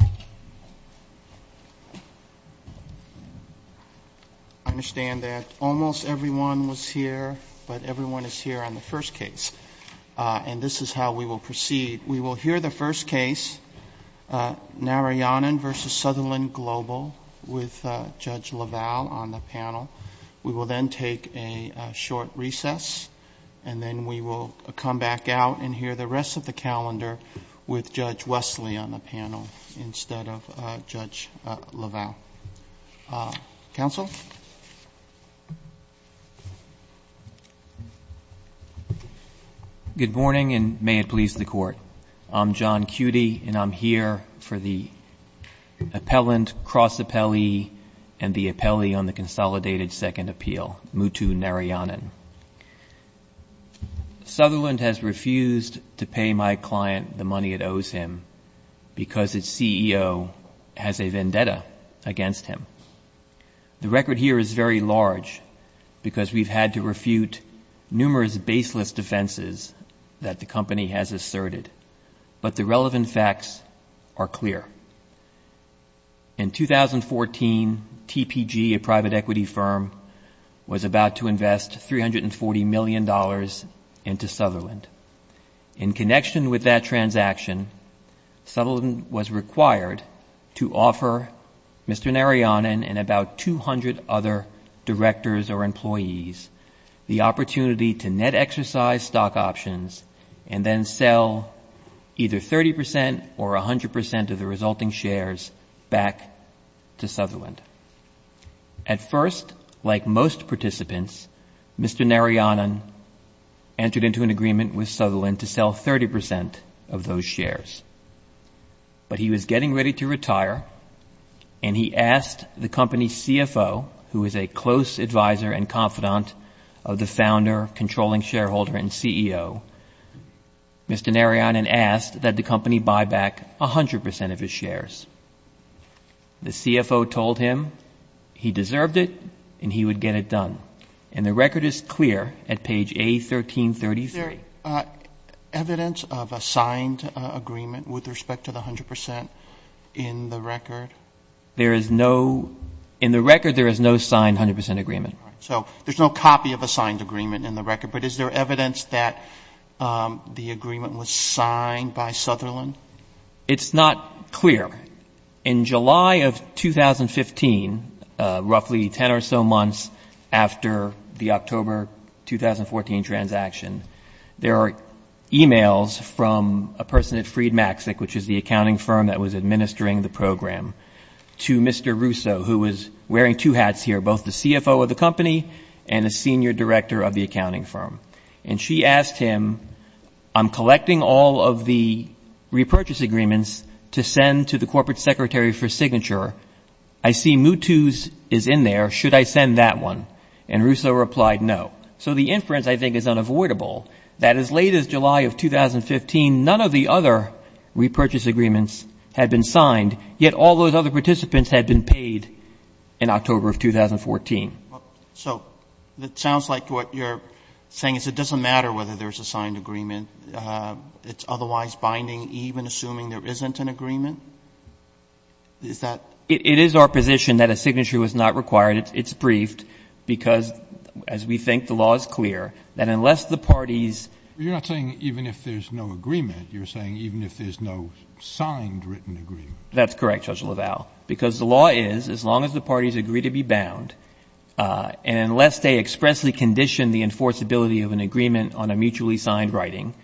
I understand that almost everyone was here, but everyone is here on the first case. And this is how we will proceed. We will hear the first case, Narayanan v. Sutherland Global, with Judge LaValle on the panel. We will then take a short recess, and then we will come back out and hear the rest of the calendar with Judge Wesley on the panel instead of Judge LaValle. Counsel? Good morning, and may it please the Court. I'm John Cudi, and I'm here for the appellant, cross-appellee, and the appellee on the consolidated second appeal, Mutu Narayanan. Sutherland has refused to pay my client the money it owes him because its CEO has a vendetta against him. The record here is very large because we've had to refute numerous baseless defenses that the company has asserted, but the relevant facts are clear. In 2014, TPG, a private equity firm, was about to invest $340 million into Sutherland. In connection with that transaction, Sutherland was required to offer Mr. Narayanan and about 200 other directors or employees the opportunity to net exercise stock options and then sell either 30 percent or 100 percent of the resulting shares back to Sutherland. At first, like most participants, Mr. Narayanan entered into an agreement with Sutherland to sell 30 percent of those shares, but he was getting ready to retire, and he asked the company's CFO, who is a close advisor and confidant of the founder, controlling shareholder, and CEO, Mr. Narayanan asked that the company buy back 100 percent of his shares. The CFO told him he deserved it and he would get it done, and the record is clear at page A1333. Is there evidence of a signed agreement with respect to the 100 percent in the record? There is no — in the record, there is no signed 100 percent agreement. So there's no copy of a signed agreement in the record, but is there evidence that the agreement was signed by Sutherland? It's not clear. In July of 2015, roughly 10 or so months after the October 2014 transaction, there are e-mails from a person at Freed Maxic, which is the accounting firm that was administering the program, to Mr. Russo, who was wearing two hats here, both the CFO of the company and the senior director of the accounting firm. And she asked him, I'm collecting all of the repurchase agreements to send to the corporate secretary for signature. I see Mutu's is in there. Should I send that one? And Russo replied, no. So the inference, I think, is unavoidable, that as late as July of 2015, none of the other repurchase agreements had been signed, yet all those other participants had been paid in October of 2014. So it sounds like what you're saying is it doesn't matter whether there's a signed agreement. It's otherwise binding, even assuming there isn't an agreement? Is that — It is our position that a signature was not required. It's briefed because, as we think, the law is clear, that unless the parties — Even if there's no signed written agreement. That's correct, Judge LaValle, because the law is, as long as the parties agree to be bound, and unless they expressly condition the enforceability of an agreement on a mutually signed writing,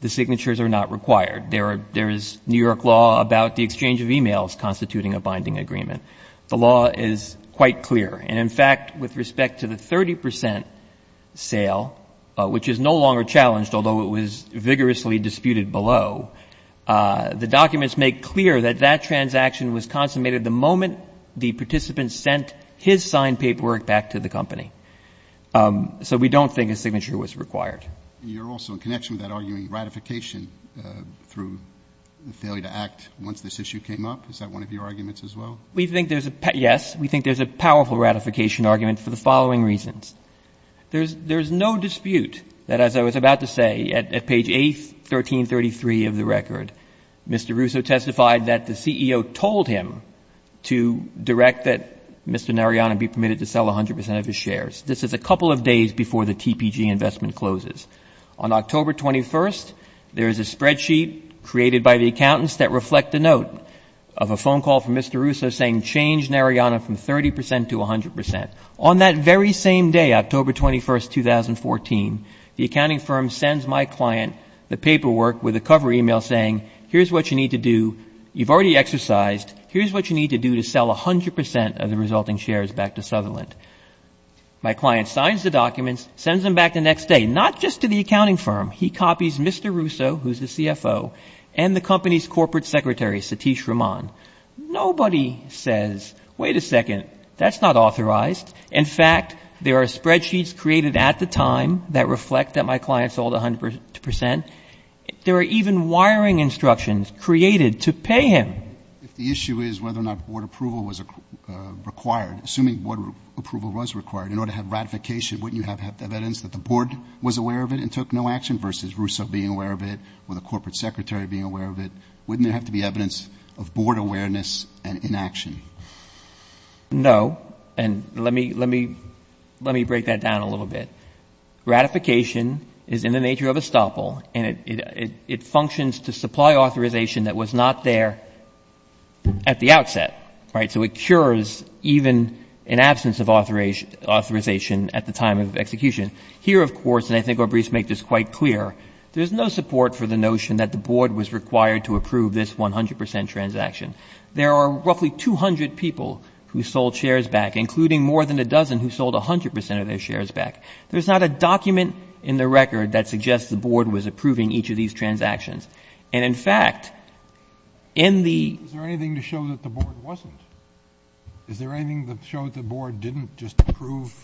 the signatures are not required. There is New York law about the exchange of e-mails constituting a binding agreement. The law is quite clear. And, in fact, with respect to the 30 percent sale, which is no longer challenged, although it was vigorously disputed below, the documents make clear that that transaction was consummated the moment the participant sent his signed paperwork back to the company. So we don't think a signature was required. You're also in connection with that arguing ratification through the failure to act once this issue came up. Is that one of your arguments as well? We think there's a — yes. We think there's a powerful ratification argument for the following reasons. There's no dispute that, as I was about to say, at page 8, 1333 of the record, Mr. Russo testified that the CEO told him to direct that Mr. Narayana be permitted to sell 100 percent of his shares. This is a couple of days before the TPG investment closes. On October 21st, there is a spreadsheet created by the accountants that reflect the note of a phone call from Mr. Russo saying, change Narayana from 30 percent to 100 percent. On that very same day, October 21st, 2014, the accounting firm sends my client the paperwork with a cover email saying, here's what you need to do. You've already exercised. Here's what you need to do to sell 100 percent of the resulting shares back to Sutherland. My client signs the documents, sends them back the next day, not just to the accounting firm. He copies Mr. Russo, who's the CFO, and the company's corporate secretary, Satish Raman. Nobody says, wait a second, that's not authorized. In fact, there are spreadsheets created at the time that reflect that my client sold 100 percent. There are even wiring instructions created to pay him. If the issue is whether or not board approval was required, assuming board approval was required, in order to have ratification, wouldn't you have evidence that the board was aware of it and took no action versus Russo being aware of it or the corporate secretary being of board awareness and inaction? No. And let me break that down a little bit. Ratification is in the nature of a stopple, and it functions to supply authorization that was not there at the outset, right? So it cures even an absence of authorization at the time of execution. Here, of course, and I think Orbris made this quite clear, there's no support for the notion that the board was required to approve this 100 percent transaction. There are roughly 200 people who sold shares back, including more than a dozen who sold 100 percent of their shares back. There's not a document in the record that suggests the board was approving each of these transactions. And in fact, in the Is there anything to show that the board wasn't? Is there anything to show that the board didn't just approve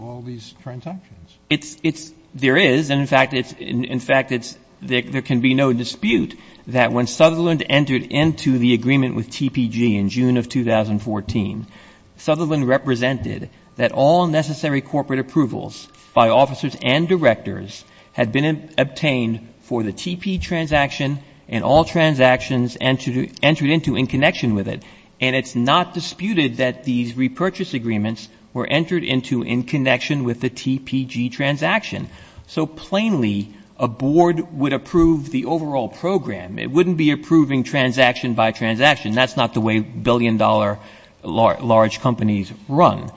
all these transactions? It's, it's, there is. And in fact, it's, in fact, it's, there can be no dispute that when Sutherland entered into the agreement with TPG in June of 2014, Sutherland represented that all necessary corporate approvals by officers and directors had been obtained for the TP transaction and all transactions entered into in connection with it. And it's not disputed that these repurchase agreements were entered into in connection with the TPG transaction. So plainly, a board would approve the overall program. It wouldn't be approving transaction by transaction. That's not the way billion-dollar large companies run.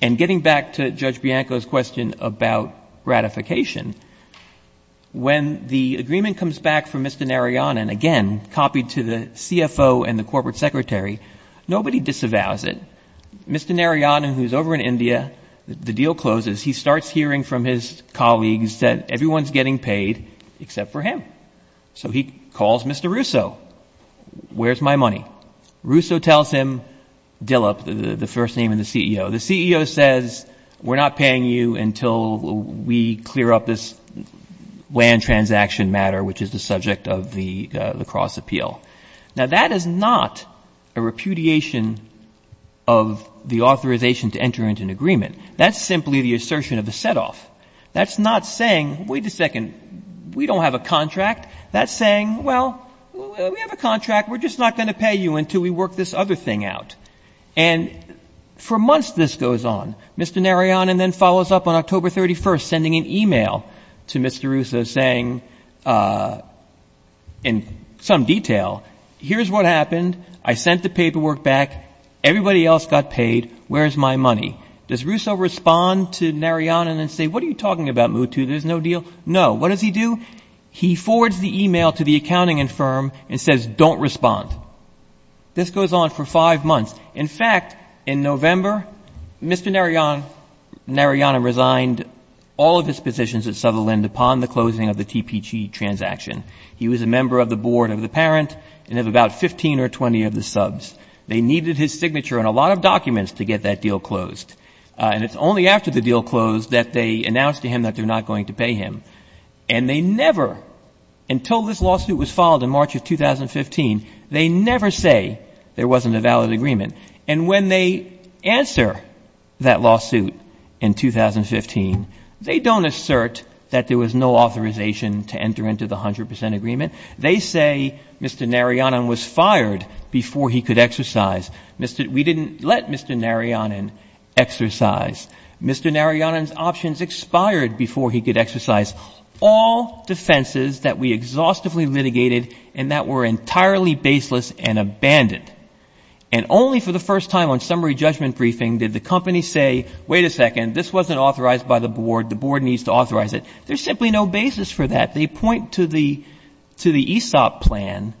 And getting back to Judge Bianco's question about ratification, when the agreement comes back from Mr. Narayanan, again, copied to the CFO and the corporate secretary, nobody disavows it, Mr. Narayanan, who's over in India, the deal closes, he starts hearing from his colleagues that everyone's getting paid except for him. So he calls Mr. Russo. Where's my money? Russo tells him, Dilip, the first name in the CEO, the CEO says, we're not paying you until we clear up this WAN transaction matter, which is the subject of the lacrosse appeal. Now, that is not a repudiation of the authorization to enter into an agreement. That's simply the assertion of the setoff. That's not saying, wait a second, we don't have a contract. That's saying, well, we have a contract. We're just not going to pay you until we work this other thing out. And for months this goes on. Mr. Narayanan then follows up on October 31st, sending an email in some detail. Here's what happened. I sent the paperwork back. Everybody else got paid. Where's my money? Does Russo respond to Narayanan and say, what are you talking about, Mutu, there's no deal? No. What does he do? He forwards the email to the accounting and firm and says, don't respond. This goes on for five months. In fact, in November, Mr. Narayanan resigned all of his positions at Sutherland upon the order of the board of the parent and of about 15 or 20 of the subs. They needed his signature and a lot of documents to get that deal closed. And it's only after the deal closed that they announced to him that they're not going to pay him. And they never, until this lawsuit was filed in March of 2015, they never say there wasn't a valid agreement. And when they answer that lawsuit in 2015, they don't assert that there was no authorization to enter into the 100 percent agreement. They say Mr. Narayanan was fired before he could exercise. We didn't let Mr. Narayanan exercise. Mr. Narayanan's options expired before he could exercise. All defenses that we exhaustively litigated and that were entirely baseless and abandoned. And only for the first time on summary judgment briefing did the company say, wait a second, this wasn't authorized by the board, the board needs to authorize it. There's simply no basis for that. They point to the ESOP plan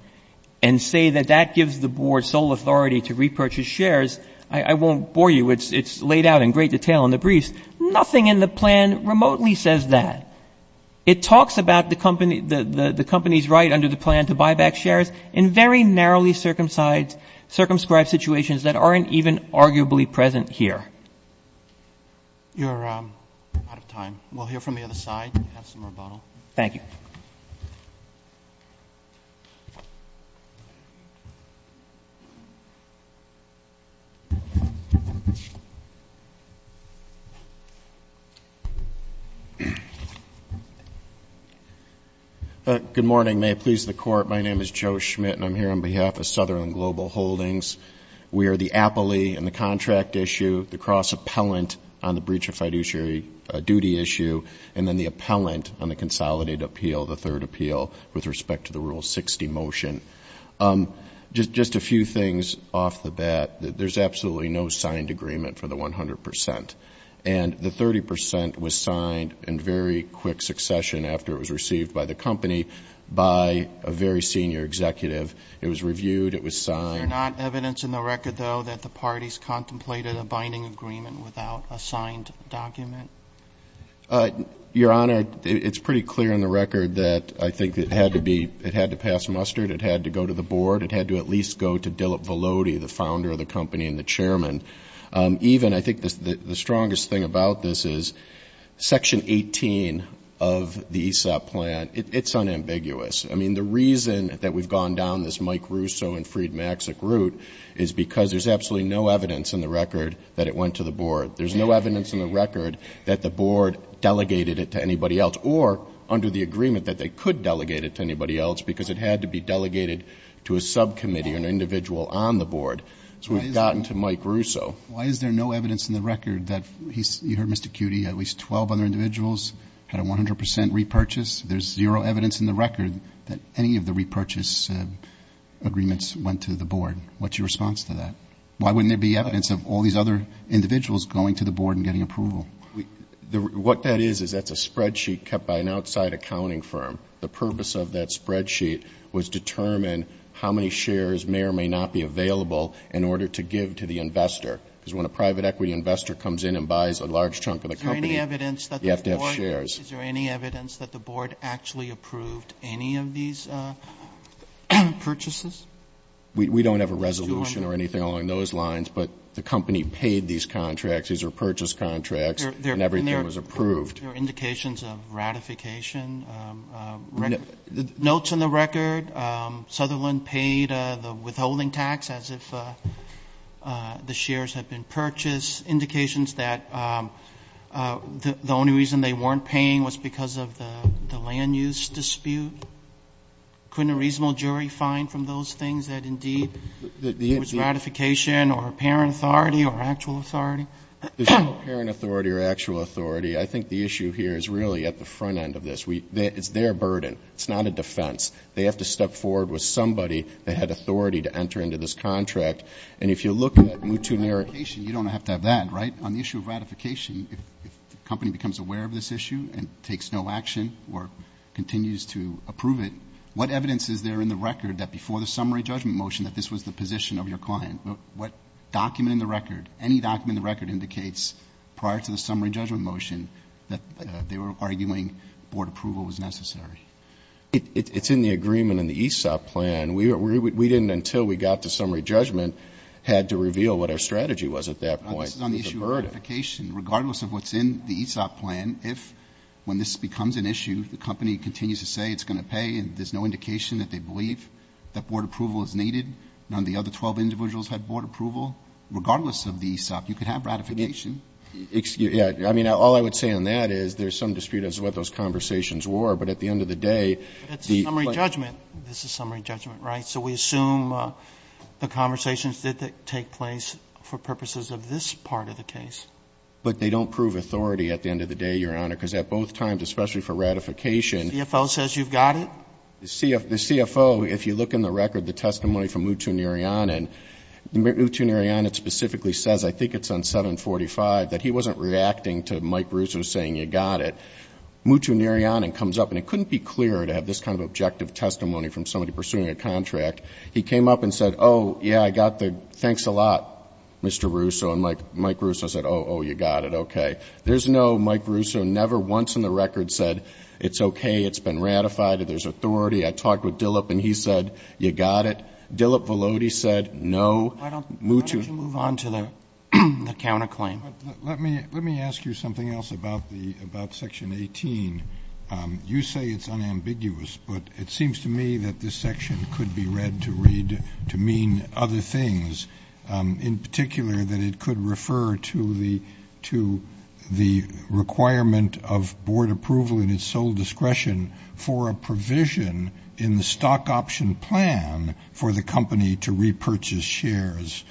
and say that that gives the board sole authority to repurchase shares. I won't bore you. It's laid out in great detail in the briefs. Nothing in the plan remotely says that. It talks about the company's right under the plan to buy back shares in very narrowly circumscribed situations that aren't even arguably present here. You're out of time. We'll hear from the other side and have some rebuttal. Thank you. Good morning. May it please the Court. My name is Joe Schmidt and I'm here on behalf of Sutherland Global Holdings. We are the appellee in the contract issue, the cross-appellant on the breach of fiduciary duty issue, and then the appellant on the consolidated appeal, the third appeal with respect to the Rule 60 motion. Just a few things off the bat. There's absolutely no signed agreement for the 100%. And the 30% was signed in very quick succession after it was received by the company by a very senior executive. It was reviewed. It was signed. Is there not evidence in the record, though, that the parties contemplated a binding agreement without a signed document? Your Honor, it's pretty clear in the record that I think it had to pass mustard. It had to go to the board. It had to at least go to Dilip Velody, the founder of the company and the chairman. Even, I think the strongest thing about this is Section 18 of the ESOP plan, it's unambiguous. I mean, the reason that we've gone down this Mike Russo and Freed Maxick route is because there's absolutely no evidence in the record that it went to the board. There's no evidence in the record that the board delegated it to anybody else or under the agreement that they could delegate it to anybody else because it had to be delegated to a subcommittee, an individual on the board. So we've gotten to Mike Russo. Why is there no evidence in the record that he's, you heard Mr. Cutty, at least 12 other individuals had a 100% repurchase? There's zero evidence in the record that any of the repurchase agreements went to the board. What's your response to that? Why wouldn't there be evidence of all these other individuals going to the board and getting approval? What that is, is that's a spreadsheet kept by an outside accounting firm. The purpose of that spreadsheet was to determine how many shares may or may not be available in order to give to the investor. Because when a private equity investor comes in and buys a large chunk of the company, you have to have shares. Is there any evidence that the board actually approved any of these purchases? We don't have a resolution or anything along those lines, but the company paid these contracts. These are purchase contracts and everything was approved. Are there indications of ratification? Notes in the record, Sutherland paid the withholding tax as if the shares had been purchased. Indications that the only reason they weren't paying was because of the land use dispute. Couldn't a reasonable jury find from those things that indeed it was ratification or apparent authority or actual authority? There's no apparent authority or actual authority. I think the issue here is really at the front end of this. It's their burden. It's not a defense. They have to step forward with somebody that had authority to enter into this contract. And if you look at Mouton-Nerik... You don't have to have that, right? On the issue of ratification, if the company becomes aware of this issue and takes no action or continues to approve it, what evidence is there in the record that before the summary judgment motion that this was the position of your client? What document in the record, any document in the record indicates prior to the summary judgment motion that they were arguing board approval was necessary? It's in the agreement in the ESOP plan. We didn't, until we got to summary judgment, had to reveal what our strategy was at that point. This is on the issue of ratification. Regardless of what's in the ESOP plan, if when this becomes an issue, the company continues to say it's going to pay and there's no indication that they believe that board approval is needed, none of the other 12 individuals had board approval, regardless of the ESOP, you could have ratification. Yeah. I mean, all I would say on that is there's some dispute as to what those conversations were, but at the end of the day, the — It's a summary judgment. This is summary judgment, right? So we assume the conversations did take place for purposes of this part of the case. But they don't prove authority at the end of the day, Your Honor, because at both times, especially for ratification — The CFO says you've got it. The CFO, if you look in the record, the testimony from Mutu Niriyanen, Mutu Niriyanen specifically says — I think it's on 745 — that he wasn't reacting to Mike Russo saying you got it. Mutu Niriyanen comes up, and it couldn't be clearer to have this kind of objective testimony from somebody pursuing a contract. He came up and said, oh, yeah, I got the thanks a lot, Mr. Russo, and Mike Russo said, oh, oh, you got it, okay. There's no Mike Russo never once in the record said, it's okay, it's been ratified, there's authority. I talked with Dilip, and he said, you got it. Dilip Valodi said, no. Why don't — Mutu — Why don't you move on to the counterclaim? Let me — let me ask you something else about the — about Section 18. You say it's unambiguous, but it seems to me that this section could be read to read — to mean other things. In particular, that it could refer to the — to the requirement of board approval in its sole discretion for a provision in the stock option plan for the company to repurchase shares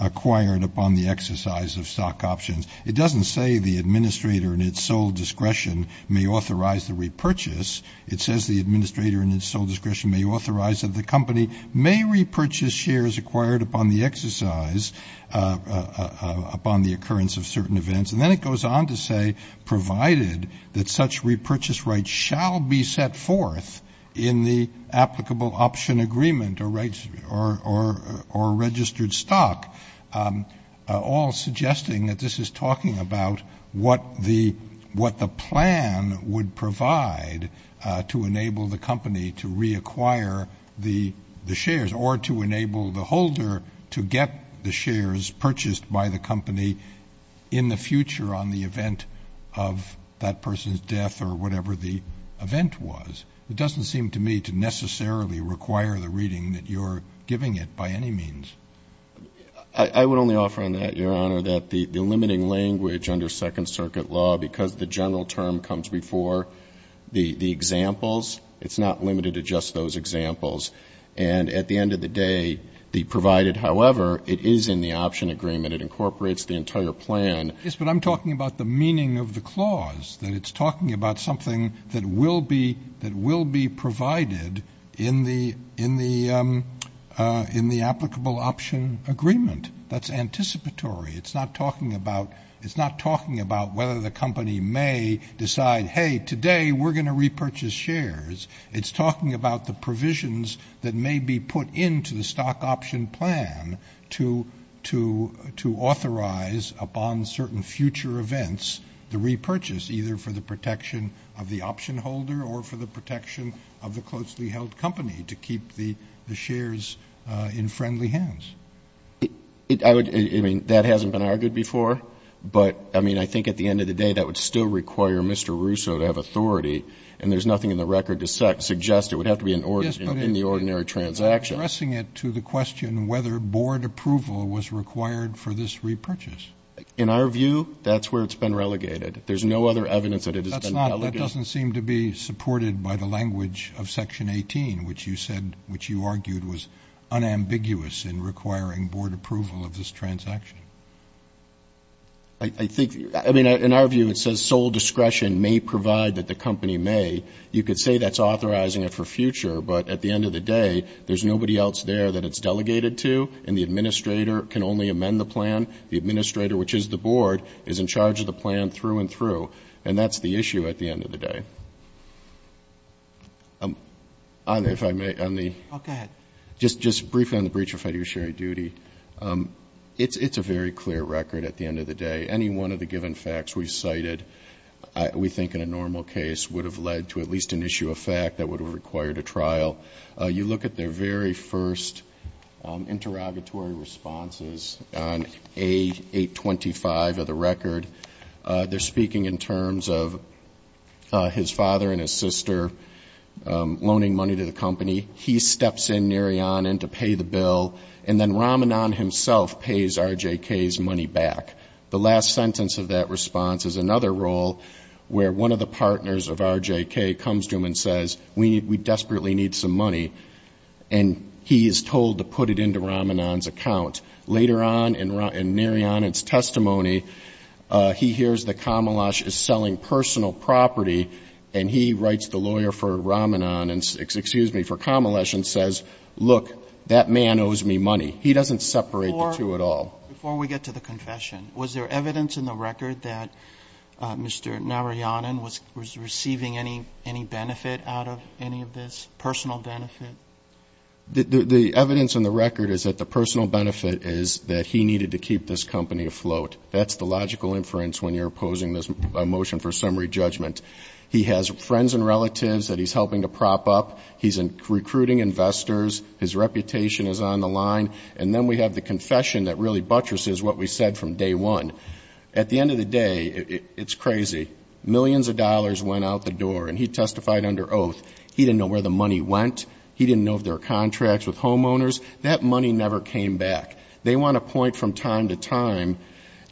acquired upon the exercise of stock options. It doesn't say the administrator in its sole discretion may authorize the repurchase. It says the administrator in its sole discretion may authorize that the company may repurchase shares acquired upon the exercise — upon the occurrence of certain events. And then it goes on to say, provided that such repurchase rights shall be set forth in the applicable option agreement or registered stock, all suggesting that this is talking about what the — what the plan would provide to enable the company to reacquire the — the shares or to enable the holder to get the shares purchased by the company in the future on the event of that person's death or whatever the event was. It doesn't seem to me to necessarily require the reading that you're giving it by any means. I would only offer on that, Your Honor, that the — the limiting language under Second It's not limited to just those examples. And at the end of the day, the provided, however, it is in the option agreement. It incorporates the entire plan. Yes, but I'm talking about the meaning of the clause, that it's talking about something that will be — that will be provided in the — in the — in the applicable option agreement. That's anticipatory. It's not talking about — it's not talking about whether the company may decide, hey, today, we're going to repurchase shares. It's talking about the provisions that may be put into the stock option plan to — to — to authorize upon certain future events the repurchase, either for the protection of the option holder or for the protection of the closely held company to keep the — the shares in friendly hands. It — I would — I mean, that hasn't been argued before. But, I mean, I think at the end of the day, that would still require Mr. Russo to have authority. And there's nothing in the record to suggest it would have to be an — in the ordinary transaction. Yes, but addressing it to the question whether board approval was required for this repurchase. In our view, that's where it's been relegated. There's no other evidence that it has been relegated. That's not — that doesn't seem to be supported by the language of Section 18, which you said — which you argued was unambiguous in requiring board approval of this transaction. I think — I mean, in our view, it says sole discretion may provide that the company may. You could say that's authorizing it for future, but at the end of the day, there's nobody else there that it's delegated to, and the administrator can only amend the plan. The administrator, which is the board, is in charge of the plan through and through. And that's the issue at the end of the day. I'm — if I may, on the — Oh, go ahead. Just briefly on the breach of fiduciary duty, it's a very clear record at the end of the day. Any one of the given facts we cited we think in a normal case would have led to at least an issue of fact that would have required a trial. You look at their very first interrogatory responses on A825 of the record. They're speaking in terms of his father and his sister loaning money to the company. He steps in, Narayanan, to pay the bill, and then Ramanan himself pays RJK's money back. The last sentence of that response is another role where one of the partners of RJK comes to him and says, we desperately need some money, and he is told to put it into Ramanan's account. Later on in Narayanan's testimony, he hears that Kamalash is selling personal property, and he writes the lawyer for Ramanan — excuse me, for Kamalash and says, look, that man owes me money. He doesn't separate the two at all. Before we get to the confession, was there evidence in the record that Mr. Narayanan was receiving any benefit out of any of this, personal benefit? The evidence in the record is that the personal benefit is that he needed to keep this company afloat. That's the logical inference when you're opposing a motion for summary judgment. He has friends and relatives that he's helping to prop up. He's recruiting investors. His reputation is on the line. And then we have the confession that really buttresses what we said from day one. At the end of the day, it's crazy. Millions of dollars went out the door, and he testified under oath. He didn't know where the money went. He didn't know if there were contracts with homeowners. That money never came back. They want to point from time to time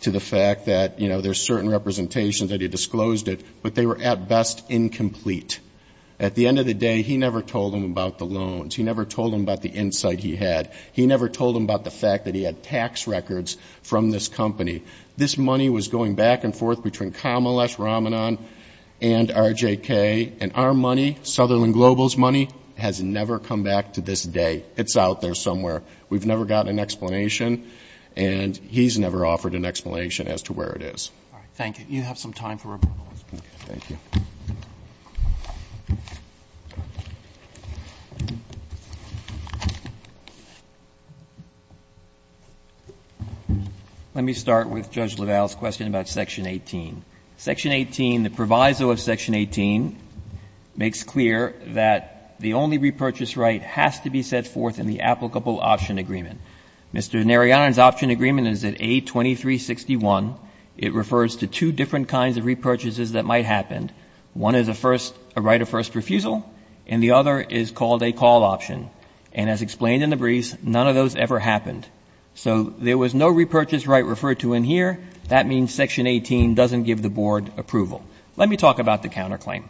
to the fact that, you know, there's certain representations that he disclosed it, but they were, at best, incomplete. At the end of the day, he never told them about the loans. He never told them about the insight he had. He never told them about the fact that he had tax records from this company. This money was going back and forth between Kamalesh, Ramanan, and RJK. And our money, Sutherland Global's money, has never come back to this day. It's out there somewhere. We've never gotten an explanation, and he's never offered an explanation as to where it is. All right. Thank you. You have some time for rebuttals. Okay. Thank you. Let me start with Judge LaValle's question about Section 18. Section 18, the proviso of Section 18, makes clear that the only repurchase right has to be set forth in the applicable option agreement. Mr. Narayanan's option agreement is at A2361. It refers to two different kinds of repurchases that might happen. One is a first — a right of first refusal, and the other is called a call option. And as explained in the briefs, none of those ever happened. So there was no repurchase right referred to in here. That means Section 18 doesn't give the Board approval. Let me talk about the counterclaim,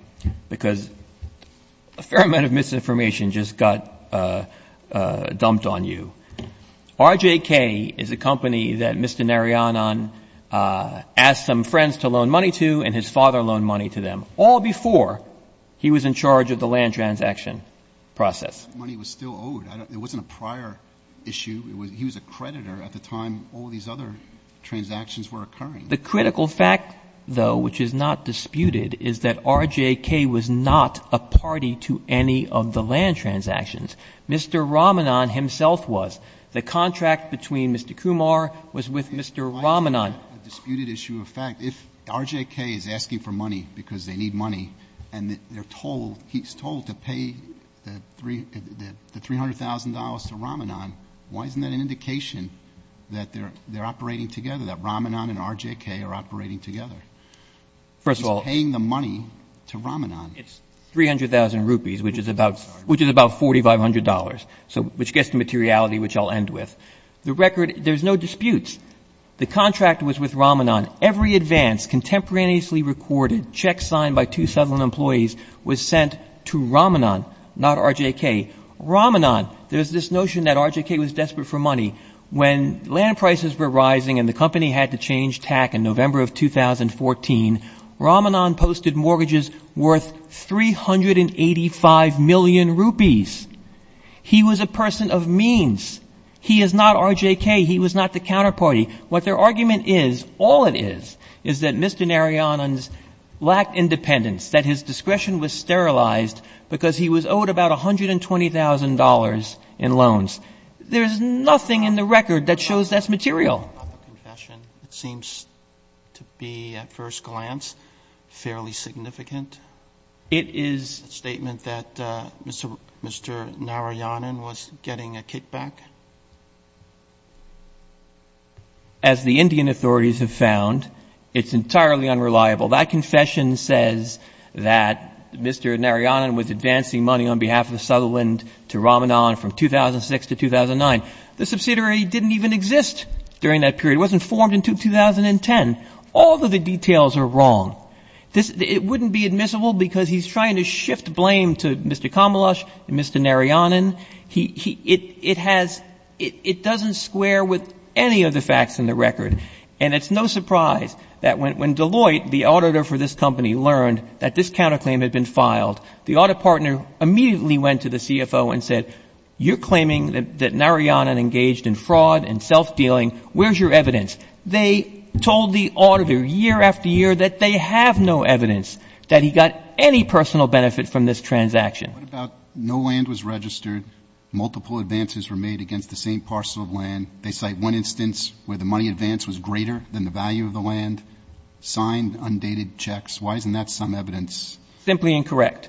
because a fair amount of misinformation just got dumped on you. RJK is a company that Mr. Narayanan asked some friends to loan money to and his father loaned money to them, all before he was in charge of the land transaction process. The money was still owed. It wasn't a prior issue. He was a creditor at the time all these other transactions were occurring. The critical fact, though, which is not disputed, is that RJK was not a party to any of the transactions themselves. The contract between Mr. Kumar was with Mr. Ramanan. If RJK is asking for money because they need money, and they're told, he's told to pay the $300,000 to Ramanan, why isn't that an indication that they're operating together, that Ramanan and RJK are operating together? First of all — He's paying the money to Ramanan. It's 300,000 rupees, which is about $4,500, which gets to materiality, which I'll end with. The record — there's no disputes. The contract was with Ramanan. Every advance, contemporaneously recorded, check signed by two Southern employees was sent to Ramanan, not RJK. Ramanan — there's this notion that RJK was desperate for money. When land prices were rising and the company had to change tack in November of 2014, Ramanan posted mortgages worth 385 million rupees. He was a person of means. He is not RJK. He was not the counterparty. What their argument is, all it is, is that Mr. Narayanan's lacked independence, that his discretion was sterilized because he was owed about $120,000 in loans. There's nothing in the record that shows that's material. The public confession seems to be, at first glance, fairly significant. It is — The statement that Mr. Narayanan was getting a kickback? As the Indian authorities have found, it's entirely unreliable. That confession says that Mr. Narayanan was advancing money on behalf of the Sutherland to Ramanan from 2006 to 2009. The subsidiary didn't even exist during that period. It wasn't formed until 2010. All of the details are wrong. It wouldn't be admissible because he's trying to shift blame to Mr. Kamalash and Mr. Narayanan. It has — it doesn't square with any of the facts in the record. And it's no surprise that when Deloitte, the auditor for this company, learned that this counterclaim had been filed, the audit partner immediately went to the CFO and said, you're claiming that Narayanan engaged in fraud and self-dealing. Where's your evidence? They told the auditor year after year that they have no evidence that he got any personal benefit from this transaction. What about no land was registered, multiple advances were made against the same parcel of land. They cite one instance where the money advance was greater than the value of the land, signed undated checks. Why isn't that some evidence? Simply incorrect.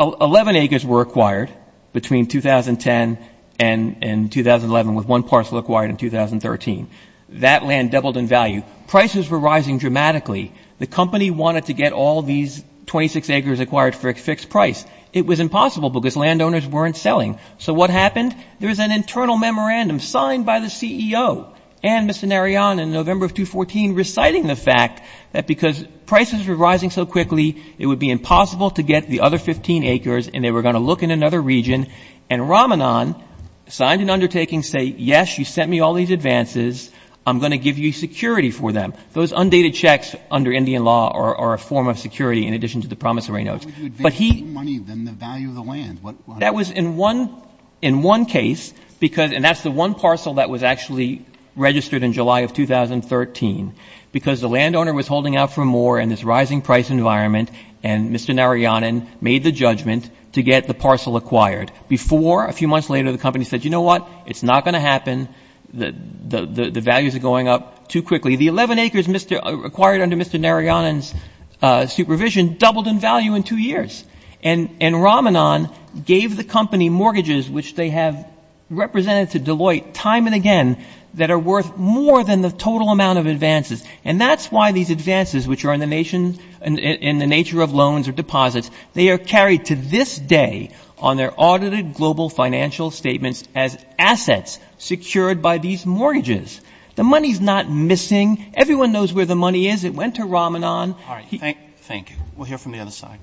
Eleven acres were acquired between 2010 and 2011, with one parcel acquired in 2013. That land doubled in value. Prices were rising dramatically. The company wanted to get all these 26 acres acquired for a fixed price. It was impossible because landowners weren't selling. So what happened? There was an internal memorandum signed by the CEO and Mr. Narayanan in November of 2014 reciting the fact that because prices were rising so quickly, it would be impossible to get the other 15 acres, and they were going to look in another region. And Ramanan signed an undertaking saying, yes, you sent me all these advances. I'm going to give you security for them. Those undated checks under Indian law are a form of security in addition to the promise of rain oaks. Why would you advance more money than the value of the land? That was in one case because, and that's the one parcel that was actually registered in July of 2013, because the landowner was holding out for more in this rising price environment and Mr. Narayanan made the judgment to get the parcel acquired. Before, a few months later, the company said, you know what, it's not going to happen. The values are going up too quickly. The 11 acres acquired under Mr. Narayanan's supervision doubled in value in two years. And Ramanan gave the company mortgages, which they have represented to Deloitte time and again, that are worth more than the total amount of advances. And that's why these advances, which are in the nature of loans or deposits, they are carried to this day on their audited global financial statements as assets secured by these mortgages. The money is not missing. Everyone knows where the money is. It went to Ramanan. All right. Thank you. We'll hear from the other side.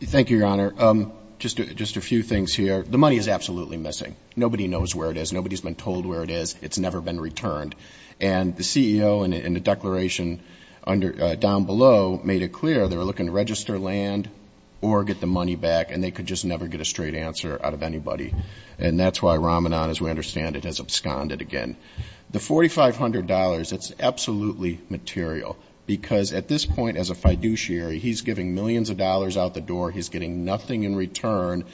Thank you, Your Honor. Just a few things here. The money is absolutely missing. Nobody knows where it is. Nobody has been told where it is. It's never been returned. And the CEO in the declaration down below made it clear they were looking to register land or get the money back and they could just never get a straight answer out of anybody. And that's why Ramanan, as we understand it, has absconded again. The $4,500, it's absolutely material because at this point as a fiduciary, he's giving millions of dollars out the door. He's getting nothing in return.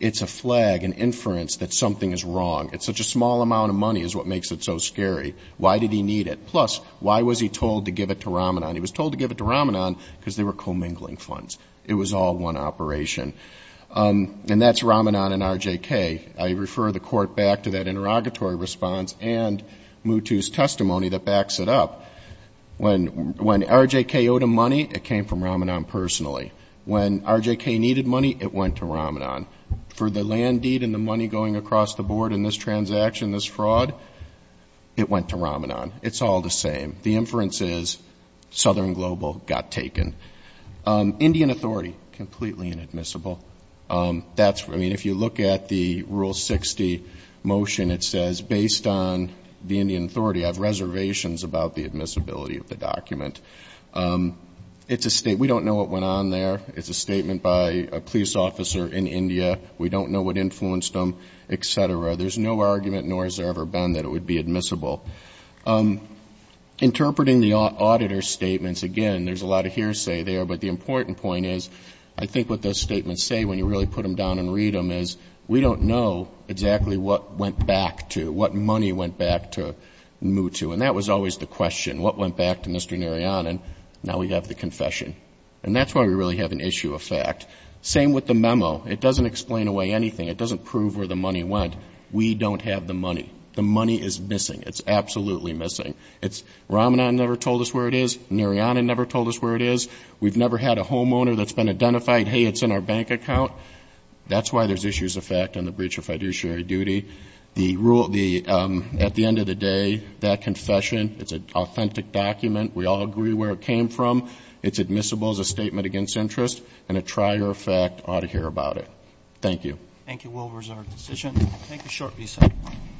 It's a flag, an inference that something is wrong. It's such a small amount of money is what makes it so scary. Why did he need it? Plus, why was he told to give it to Ramanan? He was told to give it to Ramanan because they were commingling funds. It was all one operation. And that's to that interrogatory response and Mutu's testimony that backs it up. When RJK owed him money, it came from Ramanan personally. When RJK needed money, it went to Ramanan. For the land deed and the money going across the board in this transaction, this fraud, it went to Ramanan. It's all the same. The inference is Southern Global got taken. Indian Authority, completely inadmissible. I mean, if you look at the Rule 60 motion, it says, based on the Indian Authority, I have reservations about the admissibility of the document. We don't know what went on there. It's a statement by a police officer in India. We don't know what influenced them, etc. There's no argument, nor has there ever been that it would be admissible. Interpreting the auditor statements, again, there's a lot of hearsay there. But the important point is, I think what those statements say when you really put them down and read them is, we don't know exactly what went back to, what money went back to Mutu. And that was always the question. What went back to Mr. Narayanan? Now we have the confession. And that's why we really have an issue of fact. Same with the memo. It doesn't explain away anything. It doesn't prove where the money went. We don't have the money. The money is missing. It's absolutely missing. Ramanan never told us where it is. Narayanan never told us where it is. We've never had a homeowner that's been identified, hey, it's in our bank account. That's why there's issues of fact on the breach of fiduciary duty. At the end of the day, that confession, it's an authentic document. We all agree where it came from. It's admissible as a statement against interest. And a trier of fact ought to hear about it. Thank you.